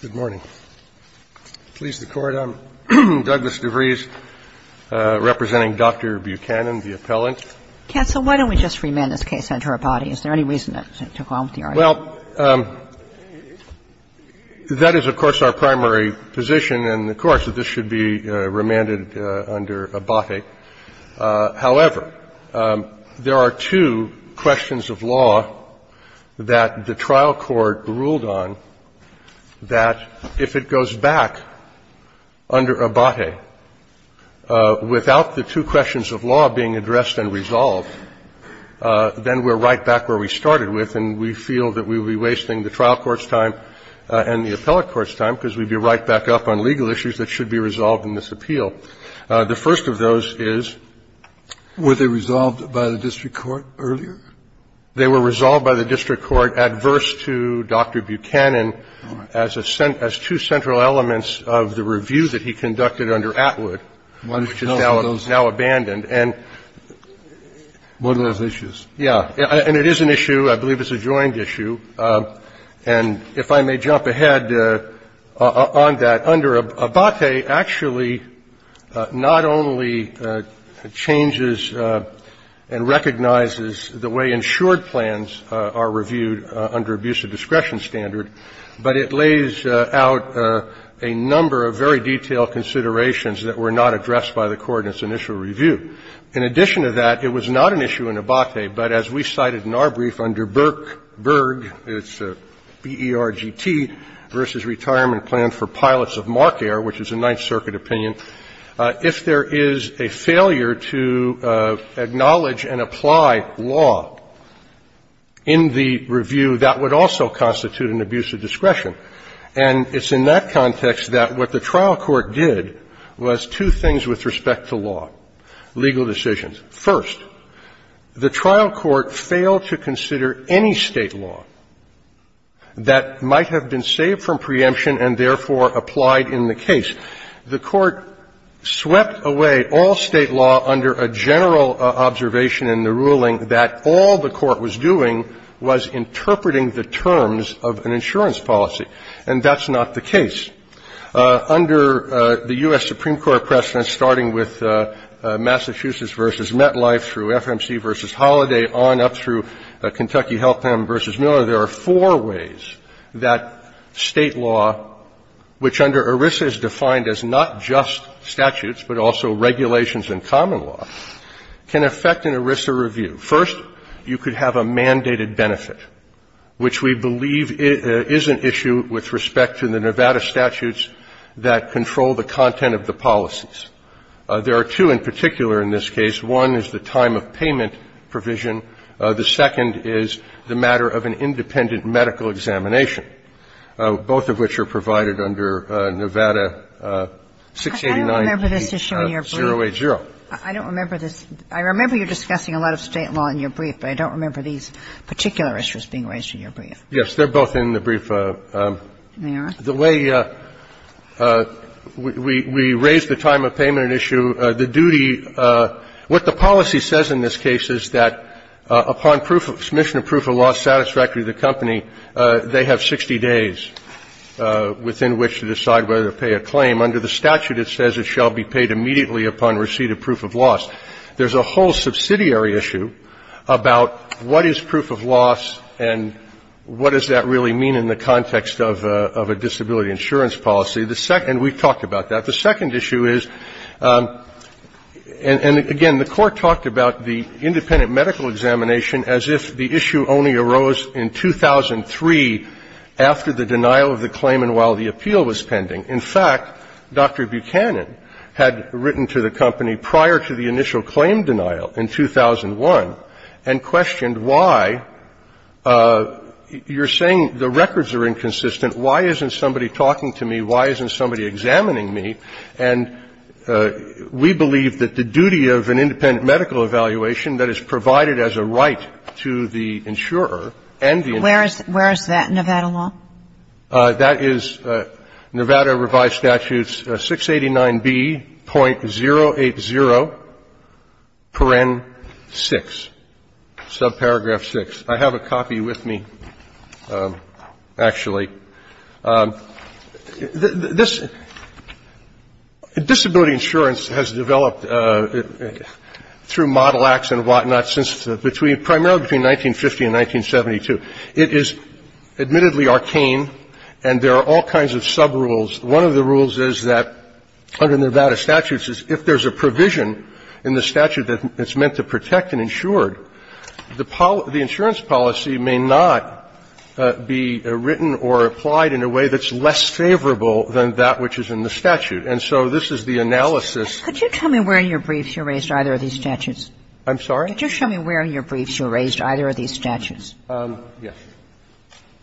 Good morning. Please, the Court, I'm Douglas DeVries, representing Dr. Buchanan, the appellant. Counsel, why don't we just remand this case under Abate? Is there any reason to go on with the argument? Well, that is, of course, our primary position in the courts, that this should be remanded under Abate. However, there are two questions of law that the trial court ruled on that if it goes back under Abate without the two questions of law being addressed and resolved, then we're right back where we started with, and we feel that we would be wasting the trial court's time and the appellate court's time because we'd be right back up on legal issues that should be resolved in this appeal. The first of those is they were resolved by the district court adverse to Dr. Buchanan as two central elements of the review that he conducted under Atwood, which is now abandoned, and one of those issues, yeah. And it is an issue, I believe it's a joint issue, and if I may jump ahead on that. Under Abate, actually, not only changes and recognizes the way insured plans are reviewed under abuse of discretion standard, but it lays out a number of very detailed considerations that were not addressed by the court in its initial review. In addition to that, it was not an issue in Abate, but as we cited in our brief under Berg, it's B-E-R-G-T, versus retirement plan for pilots of Mark Air, which is a Ninth Circuit opinion, if there is a failure to acknowledge and apply law in the review, that would also constitute an abuse of discretion. And it's in that context that what the trial court did was two things with respect to law, legal decisions. First, the trial court failed to consider any State law that might have been saved from preemption and therefore applied in the case. The court swept away all State law under a general observation in the ruling that all the court was doing was interpreting the terms of an insurance policy. And that's not the case. Under the U.S. Supreme Court precedent, starting with Massachusetts v. MetLife through FMC v. Holiday on up through Kentucky Health Plan v. Miller, there are four ways that State law, which under ERISA is defined as not just statutes, but also regulations and common law, can affect an ERISA review. First, you could have a mandated benefit, which we believe is an issue with respect to the Nevada statutes that control the content of the policies. There are two in particular in this case. One is the time of payment provision. The second is the matter of an independent medical examination, both of which are provided under Nevada 689-080. So there are two in particular. I don't remember this. I remember you were discussing a lot of State law in your brief, but I don't remember these particular issues being raised in your brief. Yes, they're both in the brief. They are? The way we raised the time of payment issue, the duty of the policy says in this case that there is a duty of proof of loss. There's a whole subsidiary issue about what is proof of loss and what does that really mean in the context of a disability insurance policy. And we've talked about that. The second issue is and, again, the Court talked about the independent medical examination as if the issue only arose in 2003 after the denial of the claim and while the appeal was pending. In fact, Dr. Buchanan had written to the company prior to the initial claim denial in 2001 and questioned why you're saying the records are inconsistent, why isn't somebody talking to me, why isn't somebody examining me. And we believe that the duty of an independent medical evaluation that is provided as a right to the insurer and the insurer. Where is that, Nevada law? That is Nevada revised statutes 689B.080.6, subparagraph 6. I have a copy with me, actually. This ‑‑ disability insurance has developed through model acts and whatnot since between ‑‑ primarily between 1950 and 1972. It is admittedly arcane and there are all kinds of subrules. One of the rules is that under Nevada statutes is if there's a provision in the statute that's meant to protect an insured, the insurance policy may not be written or applied in a way that's less favorable than that which is in the statute. And so this is the analysis ‑‑ Kagan. Could you tell me where in your briefs you raised either of these statutes? I'm sorry? Could you tell me where in your briefs you raised either of these statutes? Yes.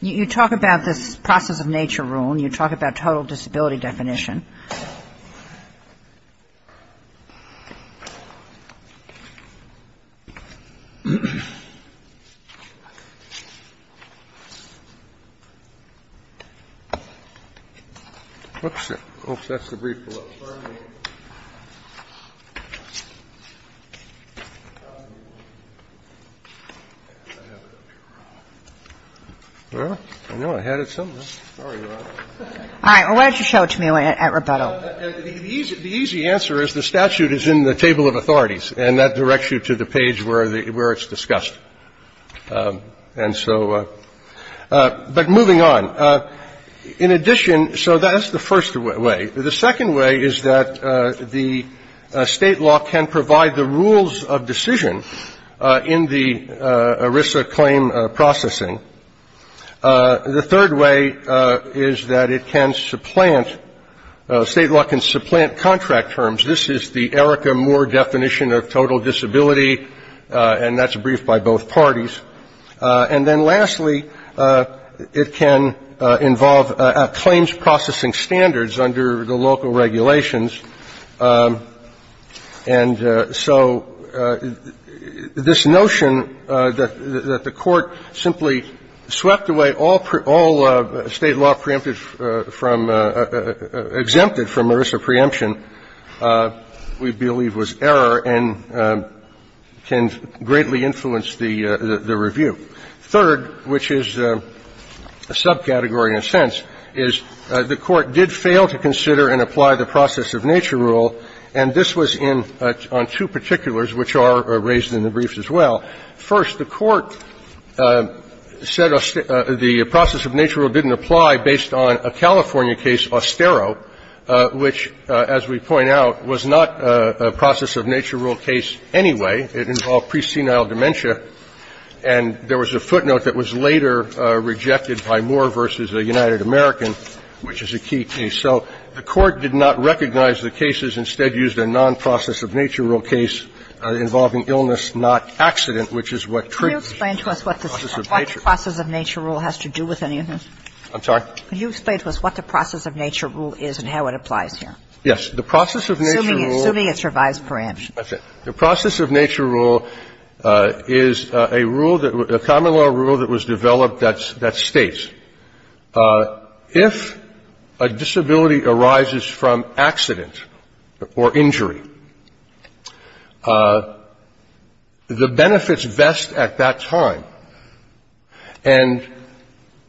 You talk about this process of nature rule and you talk about total disability definition. Oops. That's the brief below. Well, I know I had it somewhere. Sorry, Your Honor. All right. Why don't you show it to me at rebuttal. The easy answer is the statute is in the table of authorities and that directs you to the page where it's discussed. And so ‑‑ but moving on. In addition, so that's the first way. The second way is that the state law can provide the rules of decision in the ERISA claim processing. The third way is that it can supplant, state law can supplant contract terms. This is the ERICA Moore definition of total disability, and that's a brief by both parties. And then lastly, it can involve claims processing standards under the local regulations. And so this notion that the court simply swept away all state law preempted from ‑‑ exempted from ERISA preemption, we believe was error and can greatly influence the review. Third, which is a subcategory in a sense, is the court did fail to consider and apply the process of nature rule, and this was in ‑‑ on two particulars which are raised in the briefs as well. First, the court said the process of nature rule didn't apply based on a California case, Ostero, which, as we point out, was not a process of nature rule case anyway. It involved presenile dementia, and there was a footnote that was later rejected by Moore v. United American, which is a key case. So the court did not recognize the cases, instead used a nonprocess of nature rule case involving illness, not accident, which is what ‑‑ Kagan. Can you explain to us what the process of nature rule has to do with any of this? I'm sorry? Can you explain to us what the process of nature rule is and how it applies here? Yes. The process of nature rule ‑‑ Assuming it survives preemption. That's it. The process of nature rule is a rule that ‑‑ a common law rule that was developed that states if a disability arises from accident or injury, the benefits vest at that time, and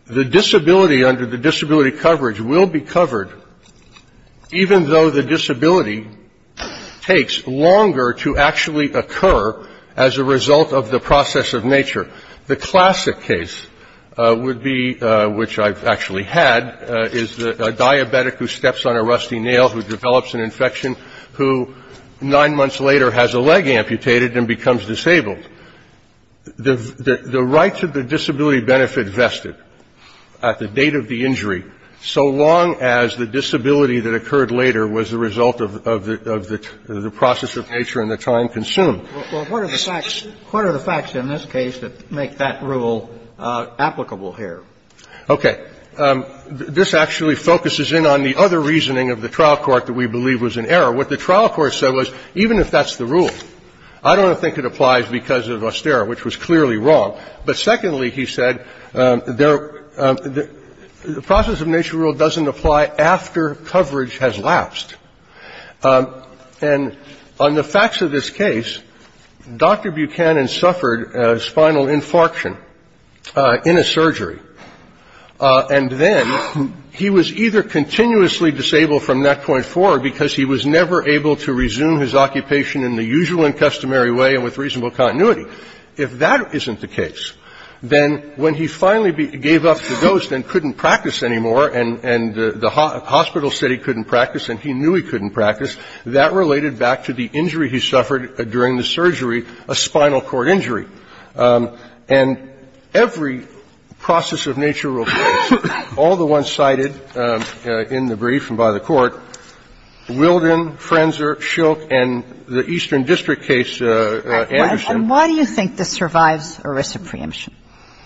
the disability under the disability coverage will be covered even though the disability takes longer to actually occur as a result of the process of nature. The classic case would be, which I've actually had, is a diabetic who steps on a rusty nail, who develops an infection, who nine months later has a leg amputated and becomes disabled. The right to the disability benefit vested at the date of the injury, so long as the disability is covered as a result of the process of nature and the time consumed. Well, what are the facts in this case that make that rule applicable here? Okay. This actually focuses in on the other reasoning of the trial court that we believe was in error. What the trial court said was, even if that's the rule, I don't think it applies because of austere, which was clearly wrong. But secondly, he said, the process of nature rule doesn't apply after coverage has lapsed. And on the facts of this case, Dr. Buchanan suffered a spinal infarction in a surgery. And then he was either continuously disabled from that point forward because he was never able to resume his occupation in the usual and customary way and with reasonable continuity. If that isn't the case, then when he finally gave up the dose and couldn't practice anymore, and the hospital said he couldn't practice and he knew he couldn't practice, that related back to the injury he suffered during the surgery, a spinal cord injury. And every process of nature rule case, all the ones cited in the brief and by the court, Wilden, Frenzer, Shilk, and the Eastern District case, Anderson. And why do you think this survives ERISA preemption?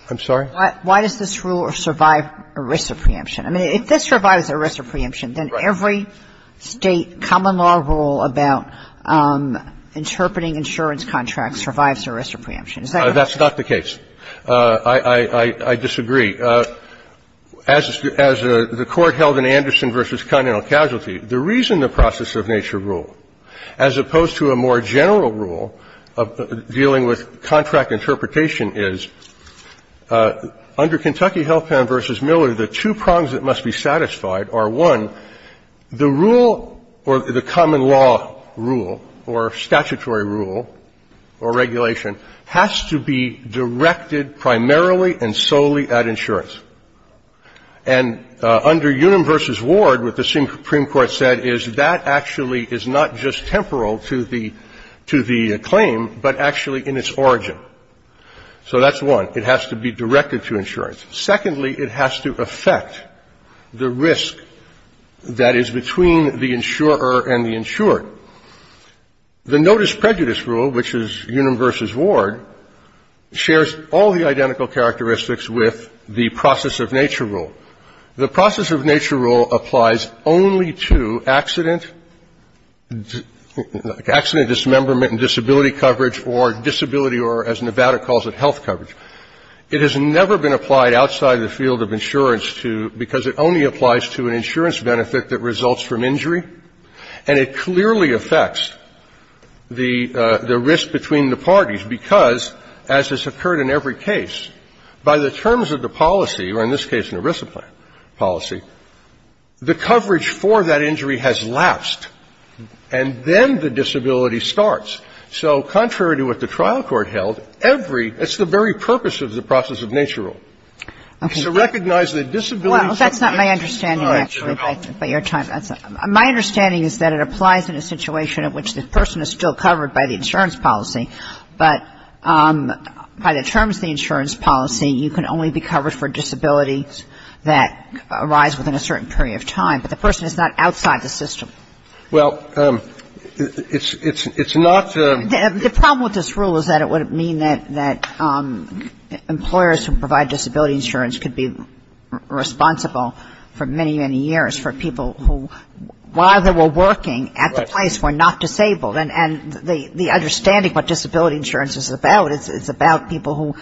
I'm sorry? Why does this rule survive ERISA preemption? I mean, if this survives ERISA preemption, then every State common law rule about interpreting insurance contracts survives ERISA preemption. Is that correct? That's not the case. I disagree. As the Court held in Anderson v. Continental Casualty, the reason the process of nature rule, as opposed to a more general rule dealing with contract interpretation is, under Kentucky Health Plan v. Miller, the two prongs that must be satisfied are, one, the rule or the common law rule or statutory rule or regulation has to be directed primarily and solely at insurance. And under Unum v. Ward, what the Supreme Court said is that actually is not just temporal to the claim, but actually in its origin. So that's one. It has to be directed to insurance. Secondly, it has to affect the risk that is between the insurer and the insured. The notice prejudice rule, which is Unum v. Ward, shares all the identical characteristics with the process of nature rule. The process of nature rule applies only to accident, accident dismemberment and disability coverage or disability or, as Nevada calls it, health coverage. It has never been applied outside the field of insurance to ñ because it only applies to an insurance benefit that results from injury. And it clearly affects the risk between the parties because, as has occurred in every case, by the terms of the policy, or in this case an ERISA policy, the coverage for that injury has lapsed, and then the disability starts. So contrary to what the trial court held, every ñ that's the very purpose of the process of nature rule. It's to recognize that disability coverage is not a health benefit. Kagan. My understanding is that it applies in a situation in which the person is still covered by the insurance policy, but by the terms of the insurance policy, you can only be covered for disabilities that arise within a certain period of time. But the person is not outside the system. Well, it's not ñ The problem with this rule is that it would mean that employers who provide disability insurance could be responsible for many, many years for people who, while they were working at the place, were not disabled. And the understanding of what disability insurance is about, it's about people who,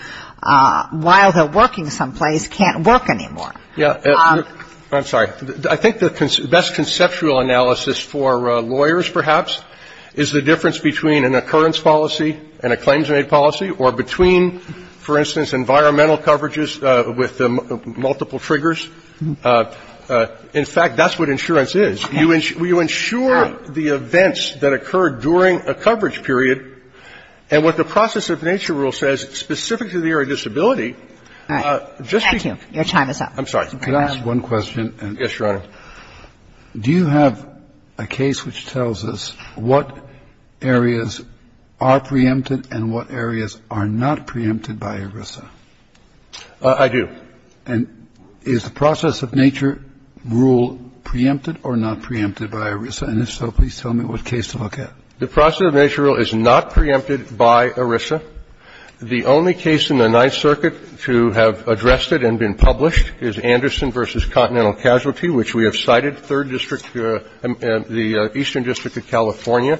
while they're working someplace, can't work anymore. Yeah. I'm sorry. I think the best conceptual analysis for lawyers, perhaps, is the difference between an occurrence policy and a claims-made policy, or between, for instance, environmental coverages with multiple triggers. In fact, that's what insurance is. You ensure the events that occur during a coverage period. And what the process of nature rule says, specific to the area of disability, just to ñ All right. Thank you. Your time is up. I'm sorry. Could I ask one question? Yes, Your Honor. Do you have a case which tells us what areas are preempted and what areas are not preempted by ERISA? I do. And is the process of nature rule preempted or not preempted by ERISA? And if so, please tell me what case to look at. The process of nature rule is not preempted by ERISA. The only case in the Ninth Circuit to have addressed it and been published is Anderson v. Continental Casualty, which we have cited, Third District, the Eastern District of California.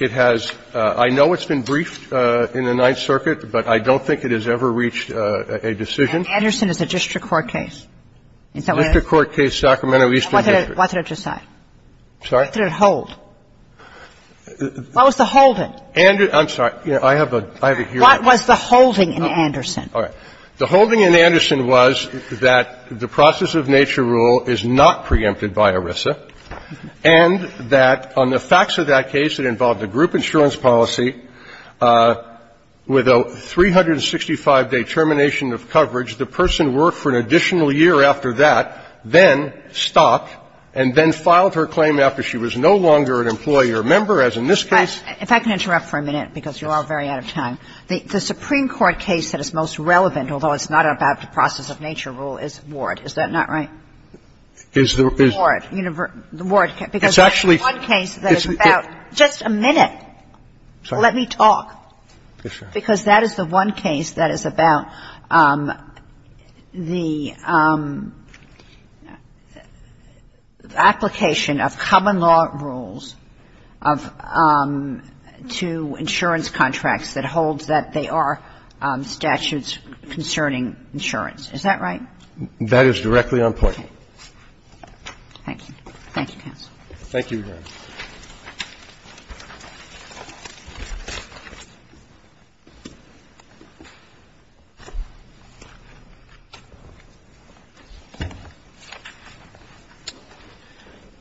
It has ñ I know it's been briefed in the Ninth Circuit, but I don't think it has ever reached a decision. And Anderson is a district court case. Is that what it is? District court case, Sacramento Eastern District. Why did it decide? Sorry? Why did it hold? Why was the hold in? And ñ I'm sorry. I have a ñ I have a hearing. What was the holding in Anderson? All right. The holding in Anderson was that the process of nature rule is not preempted by ERISA and that on the facts of that case that involved a group insurance policy with a 365-day termination of coverage, the person worked for an additional year after that, then stopped, and then filed her claim after she was no longer an employee or member, as in this case. And the Supreme Court case that is most relevant, although it's not about the process of nature rule, is Ward. Is that not right? Is the ñ is ñ Ward. The Ward case, because that's the one case that is about ñ just a minute. Let me talk. Yes, Your Honor. Because that is the one case that is about the application of common law rules of to insurance contracts that holds that they are statutes concerning insurance. Is that right? That is directly on point. Thank you. Thank you, counsel. Thank you, Your Honor.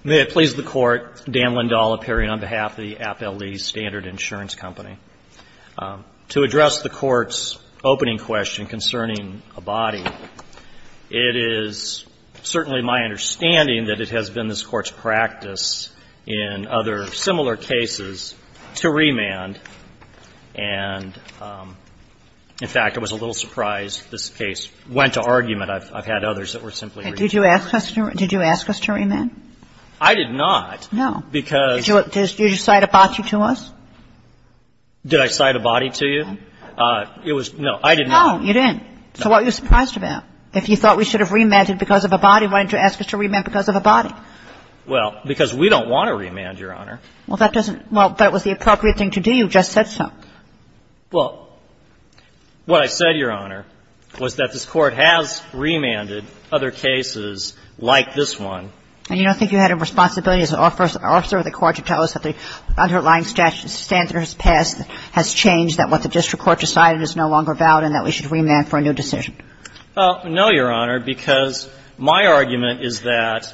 May it please the Court, Dan Lindahl, appearing on behalf of the Appellee Standard Insurance Company, to address the Court's opening question concerning a body, it is certainly my understanding that it has been this Court's practice in other similar cases to remand. And, in fact, I was a little surprised this case went to argument. I've had others that were simply remanded. Did you ask us to ñ did you ask us to remand? I did not, because ñ Did you cite a body to us? Did I cite a body to you? It was ñ no, I didn't. No, you didn't. So what were you surprised about? If you thought we should have remanded because of a body, why did you ask us to remand because of a body? Well, because we don't want to remand, Your Honor. Well, that doesn't ñ well, but it was the appropriate thing to do. You just said so. Well, what I said, Your Honor, was that this Court has remanded other cases like this one. And you don't think you had a responsibility as an officer of the court to tell us that the underlying statute of standards passed has changed, that what the district court decided is no longer valid, and that we should remand for a new decision? Well, no, Your Honor, because my argument is that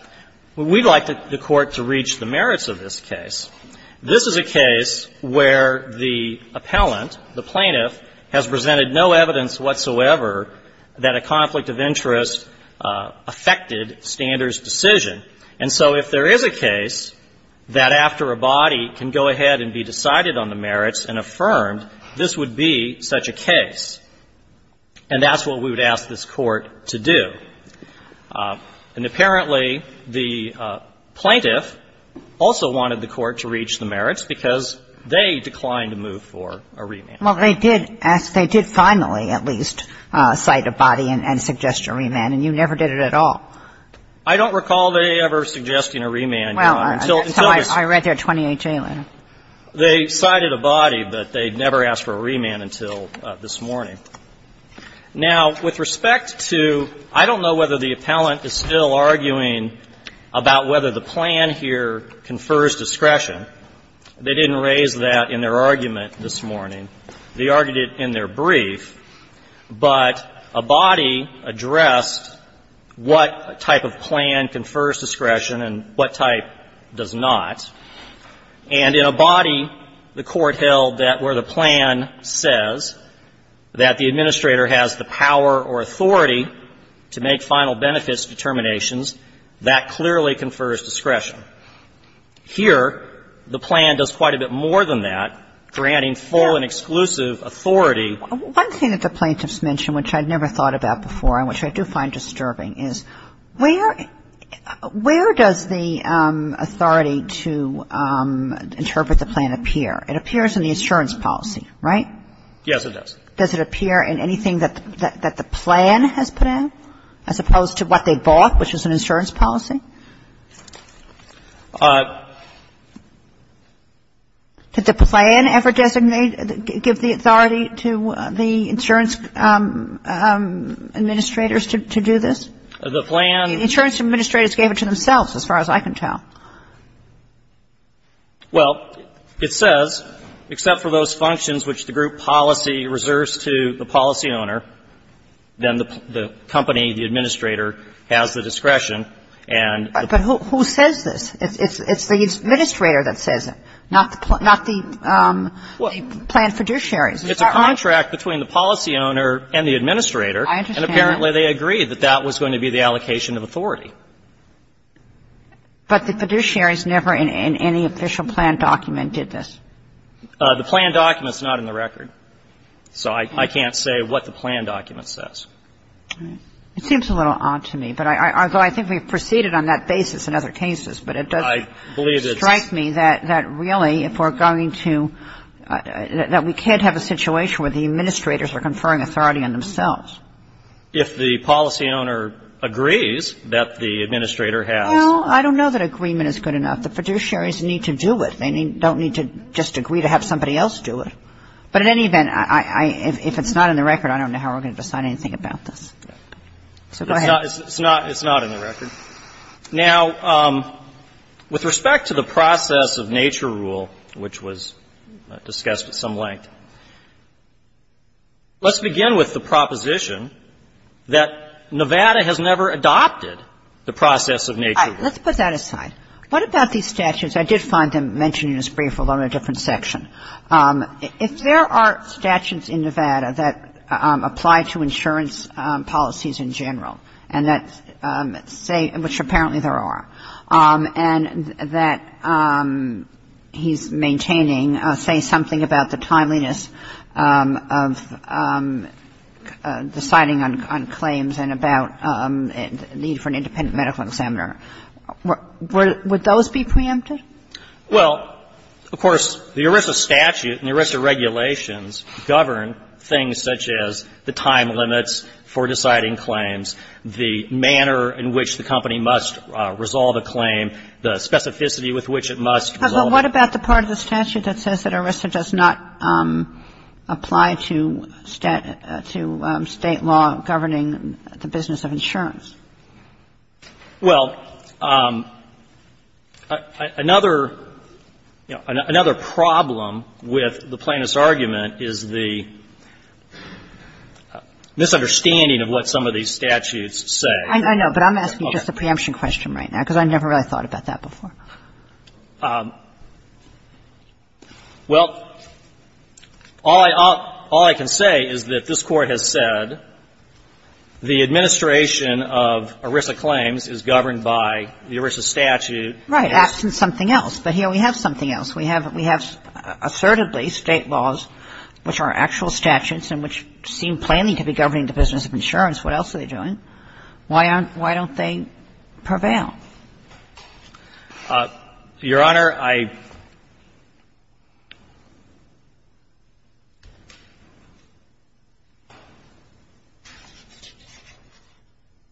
we'd like the court to reach the merits of this case. This is a case where the appellant, the plaintiff, has presented no evidence whatsoever that a conflict of interest affected standards decision. And so if there is a case that after a body can go ahead and be decided on the merits and affirmed, this would be such a case. And that's what we would ask this Court to do. And apparently, the plaintiff also wanted the court to reach the merits because they declined to move for a remand. Well, they did ask, they did finally at least cite a body and suggest a remand, and you never did it at all. I don't recall they ever suggesting a remand, Your Honor, until this ---- Well, I read their 28-J letter. They cited a body, but they never asked for a remand until this morning. Now, with respect to ---- I don't know whether the appellant is still arguing about whether the plan here confers discretion. They didn't raise that in their argument this morning. They argued it in their brief, but a body addressed what type of plan confers discretion and what type does not. And in a body, the Court held that where the plan says that the administrator has the power or authority to make final benefits determinations, that clearly confers discretion. Here, the plan does quite a bit more than that, granting full and exclusive authority. One thing that the plaintiffs mention, which I'd never thought about before and which I do find disturbing, is where does the authority to interpret the plan appear? It appears in the insurance policy, right? Yes, it does. Does it appear in anything that the plan has put out as opposed to what they bought, which is an insurance policy? Did the plan ever designate or give the authority to the insurance administrators to do this? The plan ---- The insurance administrators gave it to themselves, as far as I can tell. Well, it says, except for those functions which the group policy reserves to the policy owner, then the company, the administrator, has the discretion and has the authority to do this. But who says this? It's the administrator that says it, not the plan fiduciaries. It's a contract between the policy owner and the administrator. And apparently, they agreed that that was going to be the allocation of authority. But the fiduciaries never in any official plan document did this. The plan document is not in the record. So I can't say what the plan document says. It seems a little odd to me. Although I think we've proceeded on that basis in other cases, but it does strike me that really, if we're going to ---- that we can't have a situation where the administrators are conferring authority on themselves. If the policy owner agrees that the administrator has ---- Well, I don't know that agreement is good enough. The fiduciaries need to do it. They don't need to just agree to have somebody else do it. But in any event, if it's not in the record, I don't know how we're going to decide anything about this. So go ahead. It's not in the record. Now, with respect to the process of nature rule, which was discussed at some length, let's begin with the proposition that Nevada has never adopted the process of nature rule. Let's put that aside. What about these statutes? I did find them mentioned in this brief, although in a different section. If there are statutes in Nevada that apply to insurance policies in general, and that say ---- which apparently there are, and that he's maintaining, say, something about the timeliness of deciding on claims and about need for an independent medical examiner, would those be preempted? Well, of course, the ERISA statute and the ERISA regulations govern things such as the time limits for deciding claims, the manner in which the company must resolve a claim, the specificity with which it must resolve a claim. But what about the part of the statute that says that ERISA does not apply to state law governing the business of insurance? Well, another, you know, another problem with the plaintiff's argument is the misunderstanding of what some of these statutes say. I know, but I'm asking just a preemption question right now, because I never really thought about that before. Well, all I can say is that this Court has said the administration of the ERISA statute and the administration of ERISA claims is governed by the ERISA statute. Right. That's something else. But here we have something else. We have assertedly state laws which are actual statutes and which seem plainly to be governing the business of insurance. What else are they doing? Why aren't they ---- why don't they prevail? Your Honor, I ----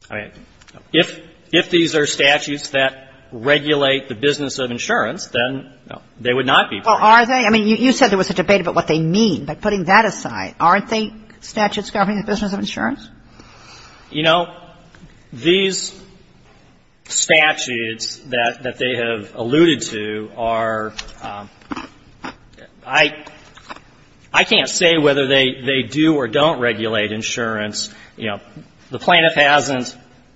I mean, if these are statutes that regulate the business of insurance, then, no, they would not be ---- Well, are they? I mean, you said there was a debate about what they mean. But putting that aside, aren't they statutes governing the business of insurance? You know, these statutes that they have alluded to are ---- I can't say whether they do or don't regulate insurance. You know, the plaintiff hasn't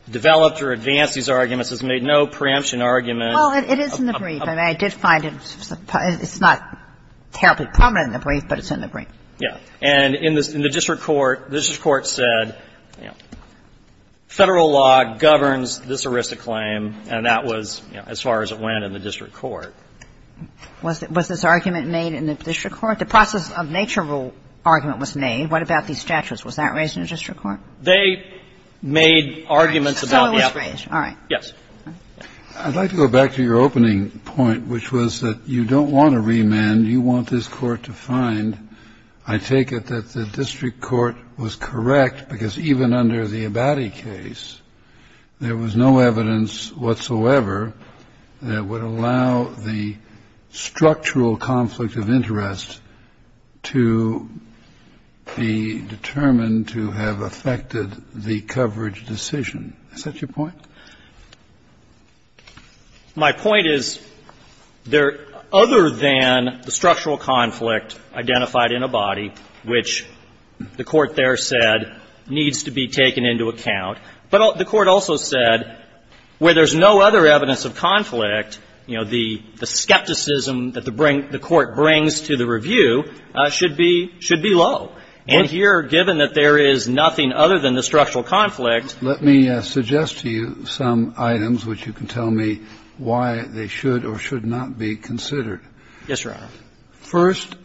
developed or advanced these arguments, has made no preemption argument. Well, it is in the brief. I mean, I did find it's not terribly prominent in the brief, but it's in the brief. Yeah. And in the district court, the district court said, you know, Federal law governs this arista claim, and that was, you know, as far as it went in the district court. Was this argument made in the district court? The process of nature rule argument was made. What about these statutes? Was that raised in the district court? They made arguments about the applicants. All right. Yes. I'd like to go back to your opening point, which was that you don't want to remand. You want this Court to find, I take it, that the district court was correct, because even under the Abadie case, there was no evidence whatsoever that would allow the structural conflict of interest to be determined to have affected the coverage decision. Is that your point? My point is, there other than the structural conflict identified in Abadie, which the Court there said needs to be taken into account, but the Court also said where there's no other evidence of conflict, you know, the skepticism that the Court brings to the review should be low. And here, given that there is nothing other than the structural conflict. Let me suggest to you some items which you can tell me why they should or should not be considered. Yes, Your Honor. First,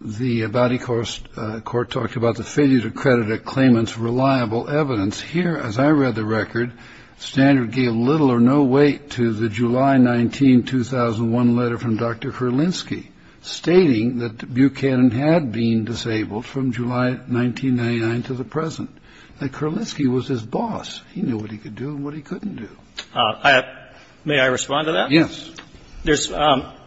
the Abadie court talked about the failure to credit a claimant's reliable evidence. Here, as I read the record, Standard gave little or no weight to the July 19, 2001 letter from Dr. Kerlinski stating that Buchanan had been disabled from July 1999 to the present. That Kerlinski was his boss. He knew what he could do and what he couldn't do. May I respond to that? Yes. There's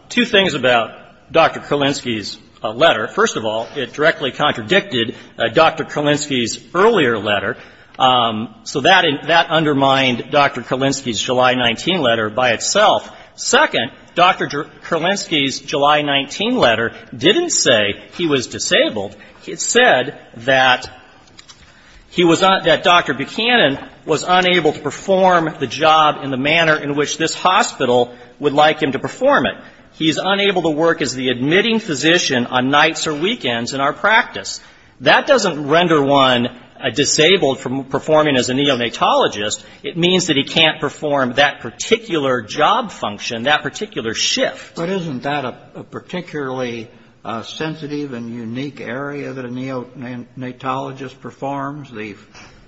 two things about Dr. Kerlinski's letter. First of all, it directly contradicted Dr. Kerlinski's earlier letter. So that undermined Dr. Kerlinski's July 19 letter by itself. Second, Dr. Kerlinski's July 19 letter didn't say he was disabled. It said that he was un — that Dr. Buchanan was unable to perform the job in the manner in which this hospital would like him to perform it. He is unable to work as the admitting physician on nights or weekends in our practice. That doesn't render one disabled from performing as a neonatologist. It means that he can't perform that particular job function, that particular shift. But isn't that a particularly sensitive and unique area that a neonatologist performs, the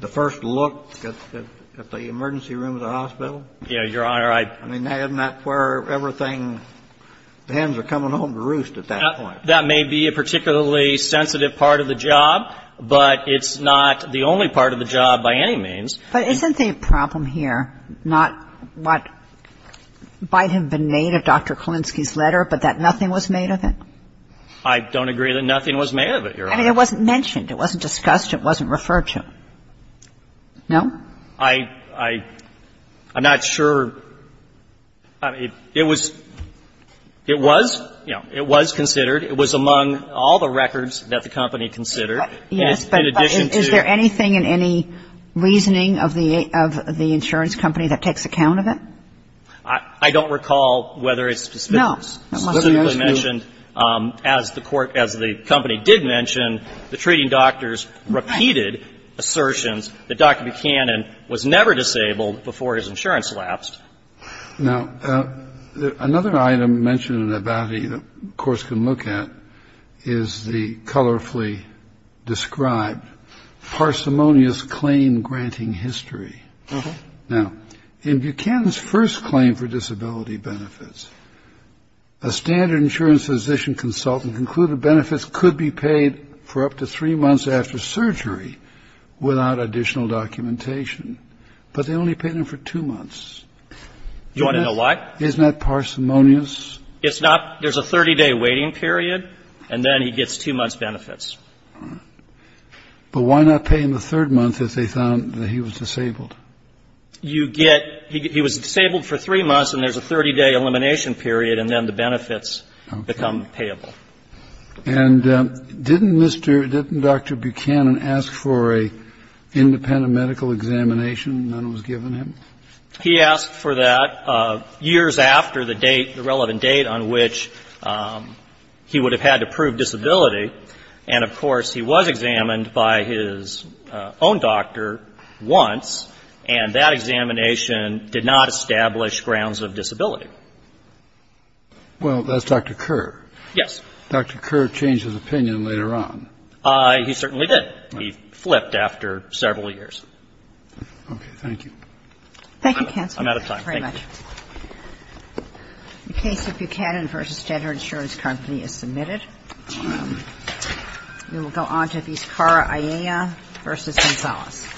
first look at the emergency room of the hospital? Yes, Your Honor, I — I mean, isn't that where everything — the hens are coming home to roost at that point. That may be a particularly sensitive part of the job, but it's not the only part of the job by any means. But isn't the problem here not what might have been made of Dr. Kerlinski's letter, but that nothing was made of it? I don't agree that nothing was made of it, Your Honor. I mean, it wasn't mentioned. It wasn't discussed. It wasn't referred to. No? I — I'm not sure. It was — it was, you know, it was considered. It was among all the records that the company considered. Yes, but is there anything in any reasoning? Is there anything of the — of the insurance company that takes account of it? I don't recall whether it's specifically mentioned. No, it must be as you — As the court — as the company did mention, the treating doctors repeated assertions that Dr. Buchanan was never disabled before his insurance lapsed. Now, another item mentioned in the bounty that the courts can look at is the colorfully described parsimonious claim-granting history. Now, in Buchanan's first claim for disability benefits, a standard insurance physician consultant concluded benefits could be paid for up to three months after surgery without additional documentation, but they only paid him for two months. You want to know why? Isn't that parsimonious? It's not. There's a 30-day waiting period, and then he gets two months' benefits. All right. But why not pay him the third month if they found that he was disabled? You get — he was disabled for three months, and there's a 30-day elimination period, and then the benefits become payable. Okay. And didn't Mr. — didn't Dr. Buchanan ask for an independent medical examination when it was given him? He asked for that years after the date, the relevant date on which he would have had to prove disability, and, of course, he was examined by his own doctor once, and that examination did not establish grounds of disability. Well, that's Dr. Kerr. Yes. Dr. Kerr changed his opinion later on. He certainly did. He flipped after several years. Okay. Thank you. Thank you, counsel. I'm out of time. Thank you. Thank you very much. The case of Buchanan v. Standard Insurance Company is submitted. We will go on to Viscara, Ayala v. Gonzalez.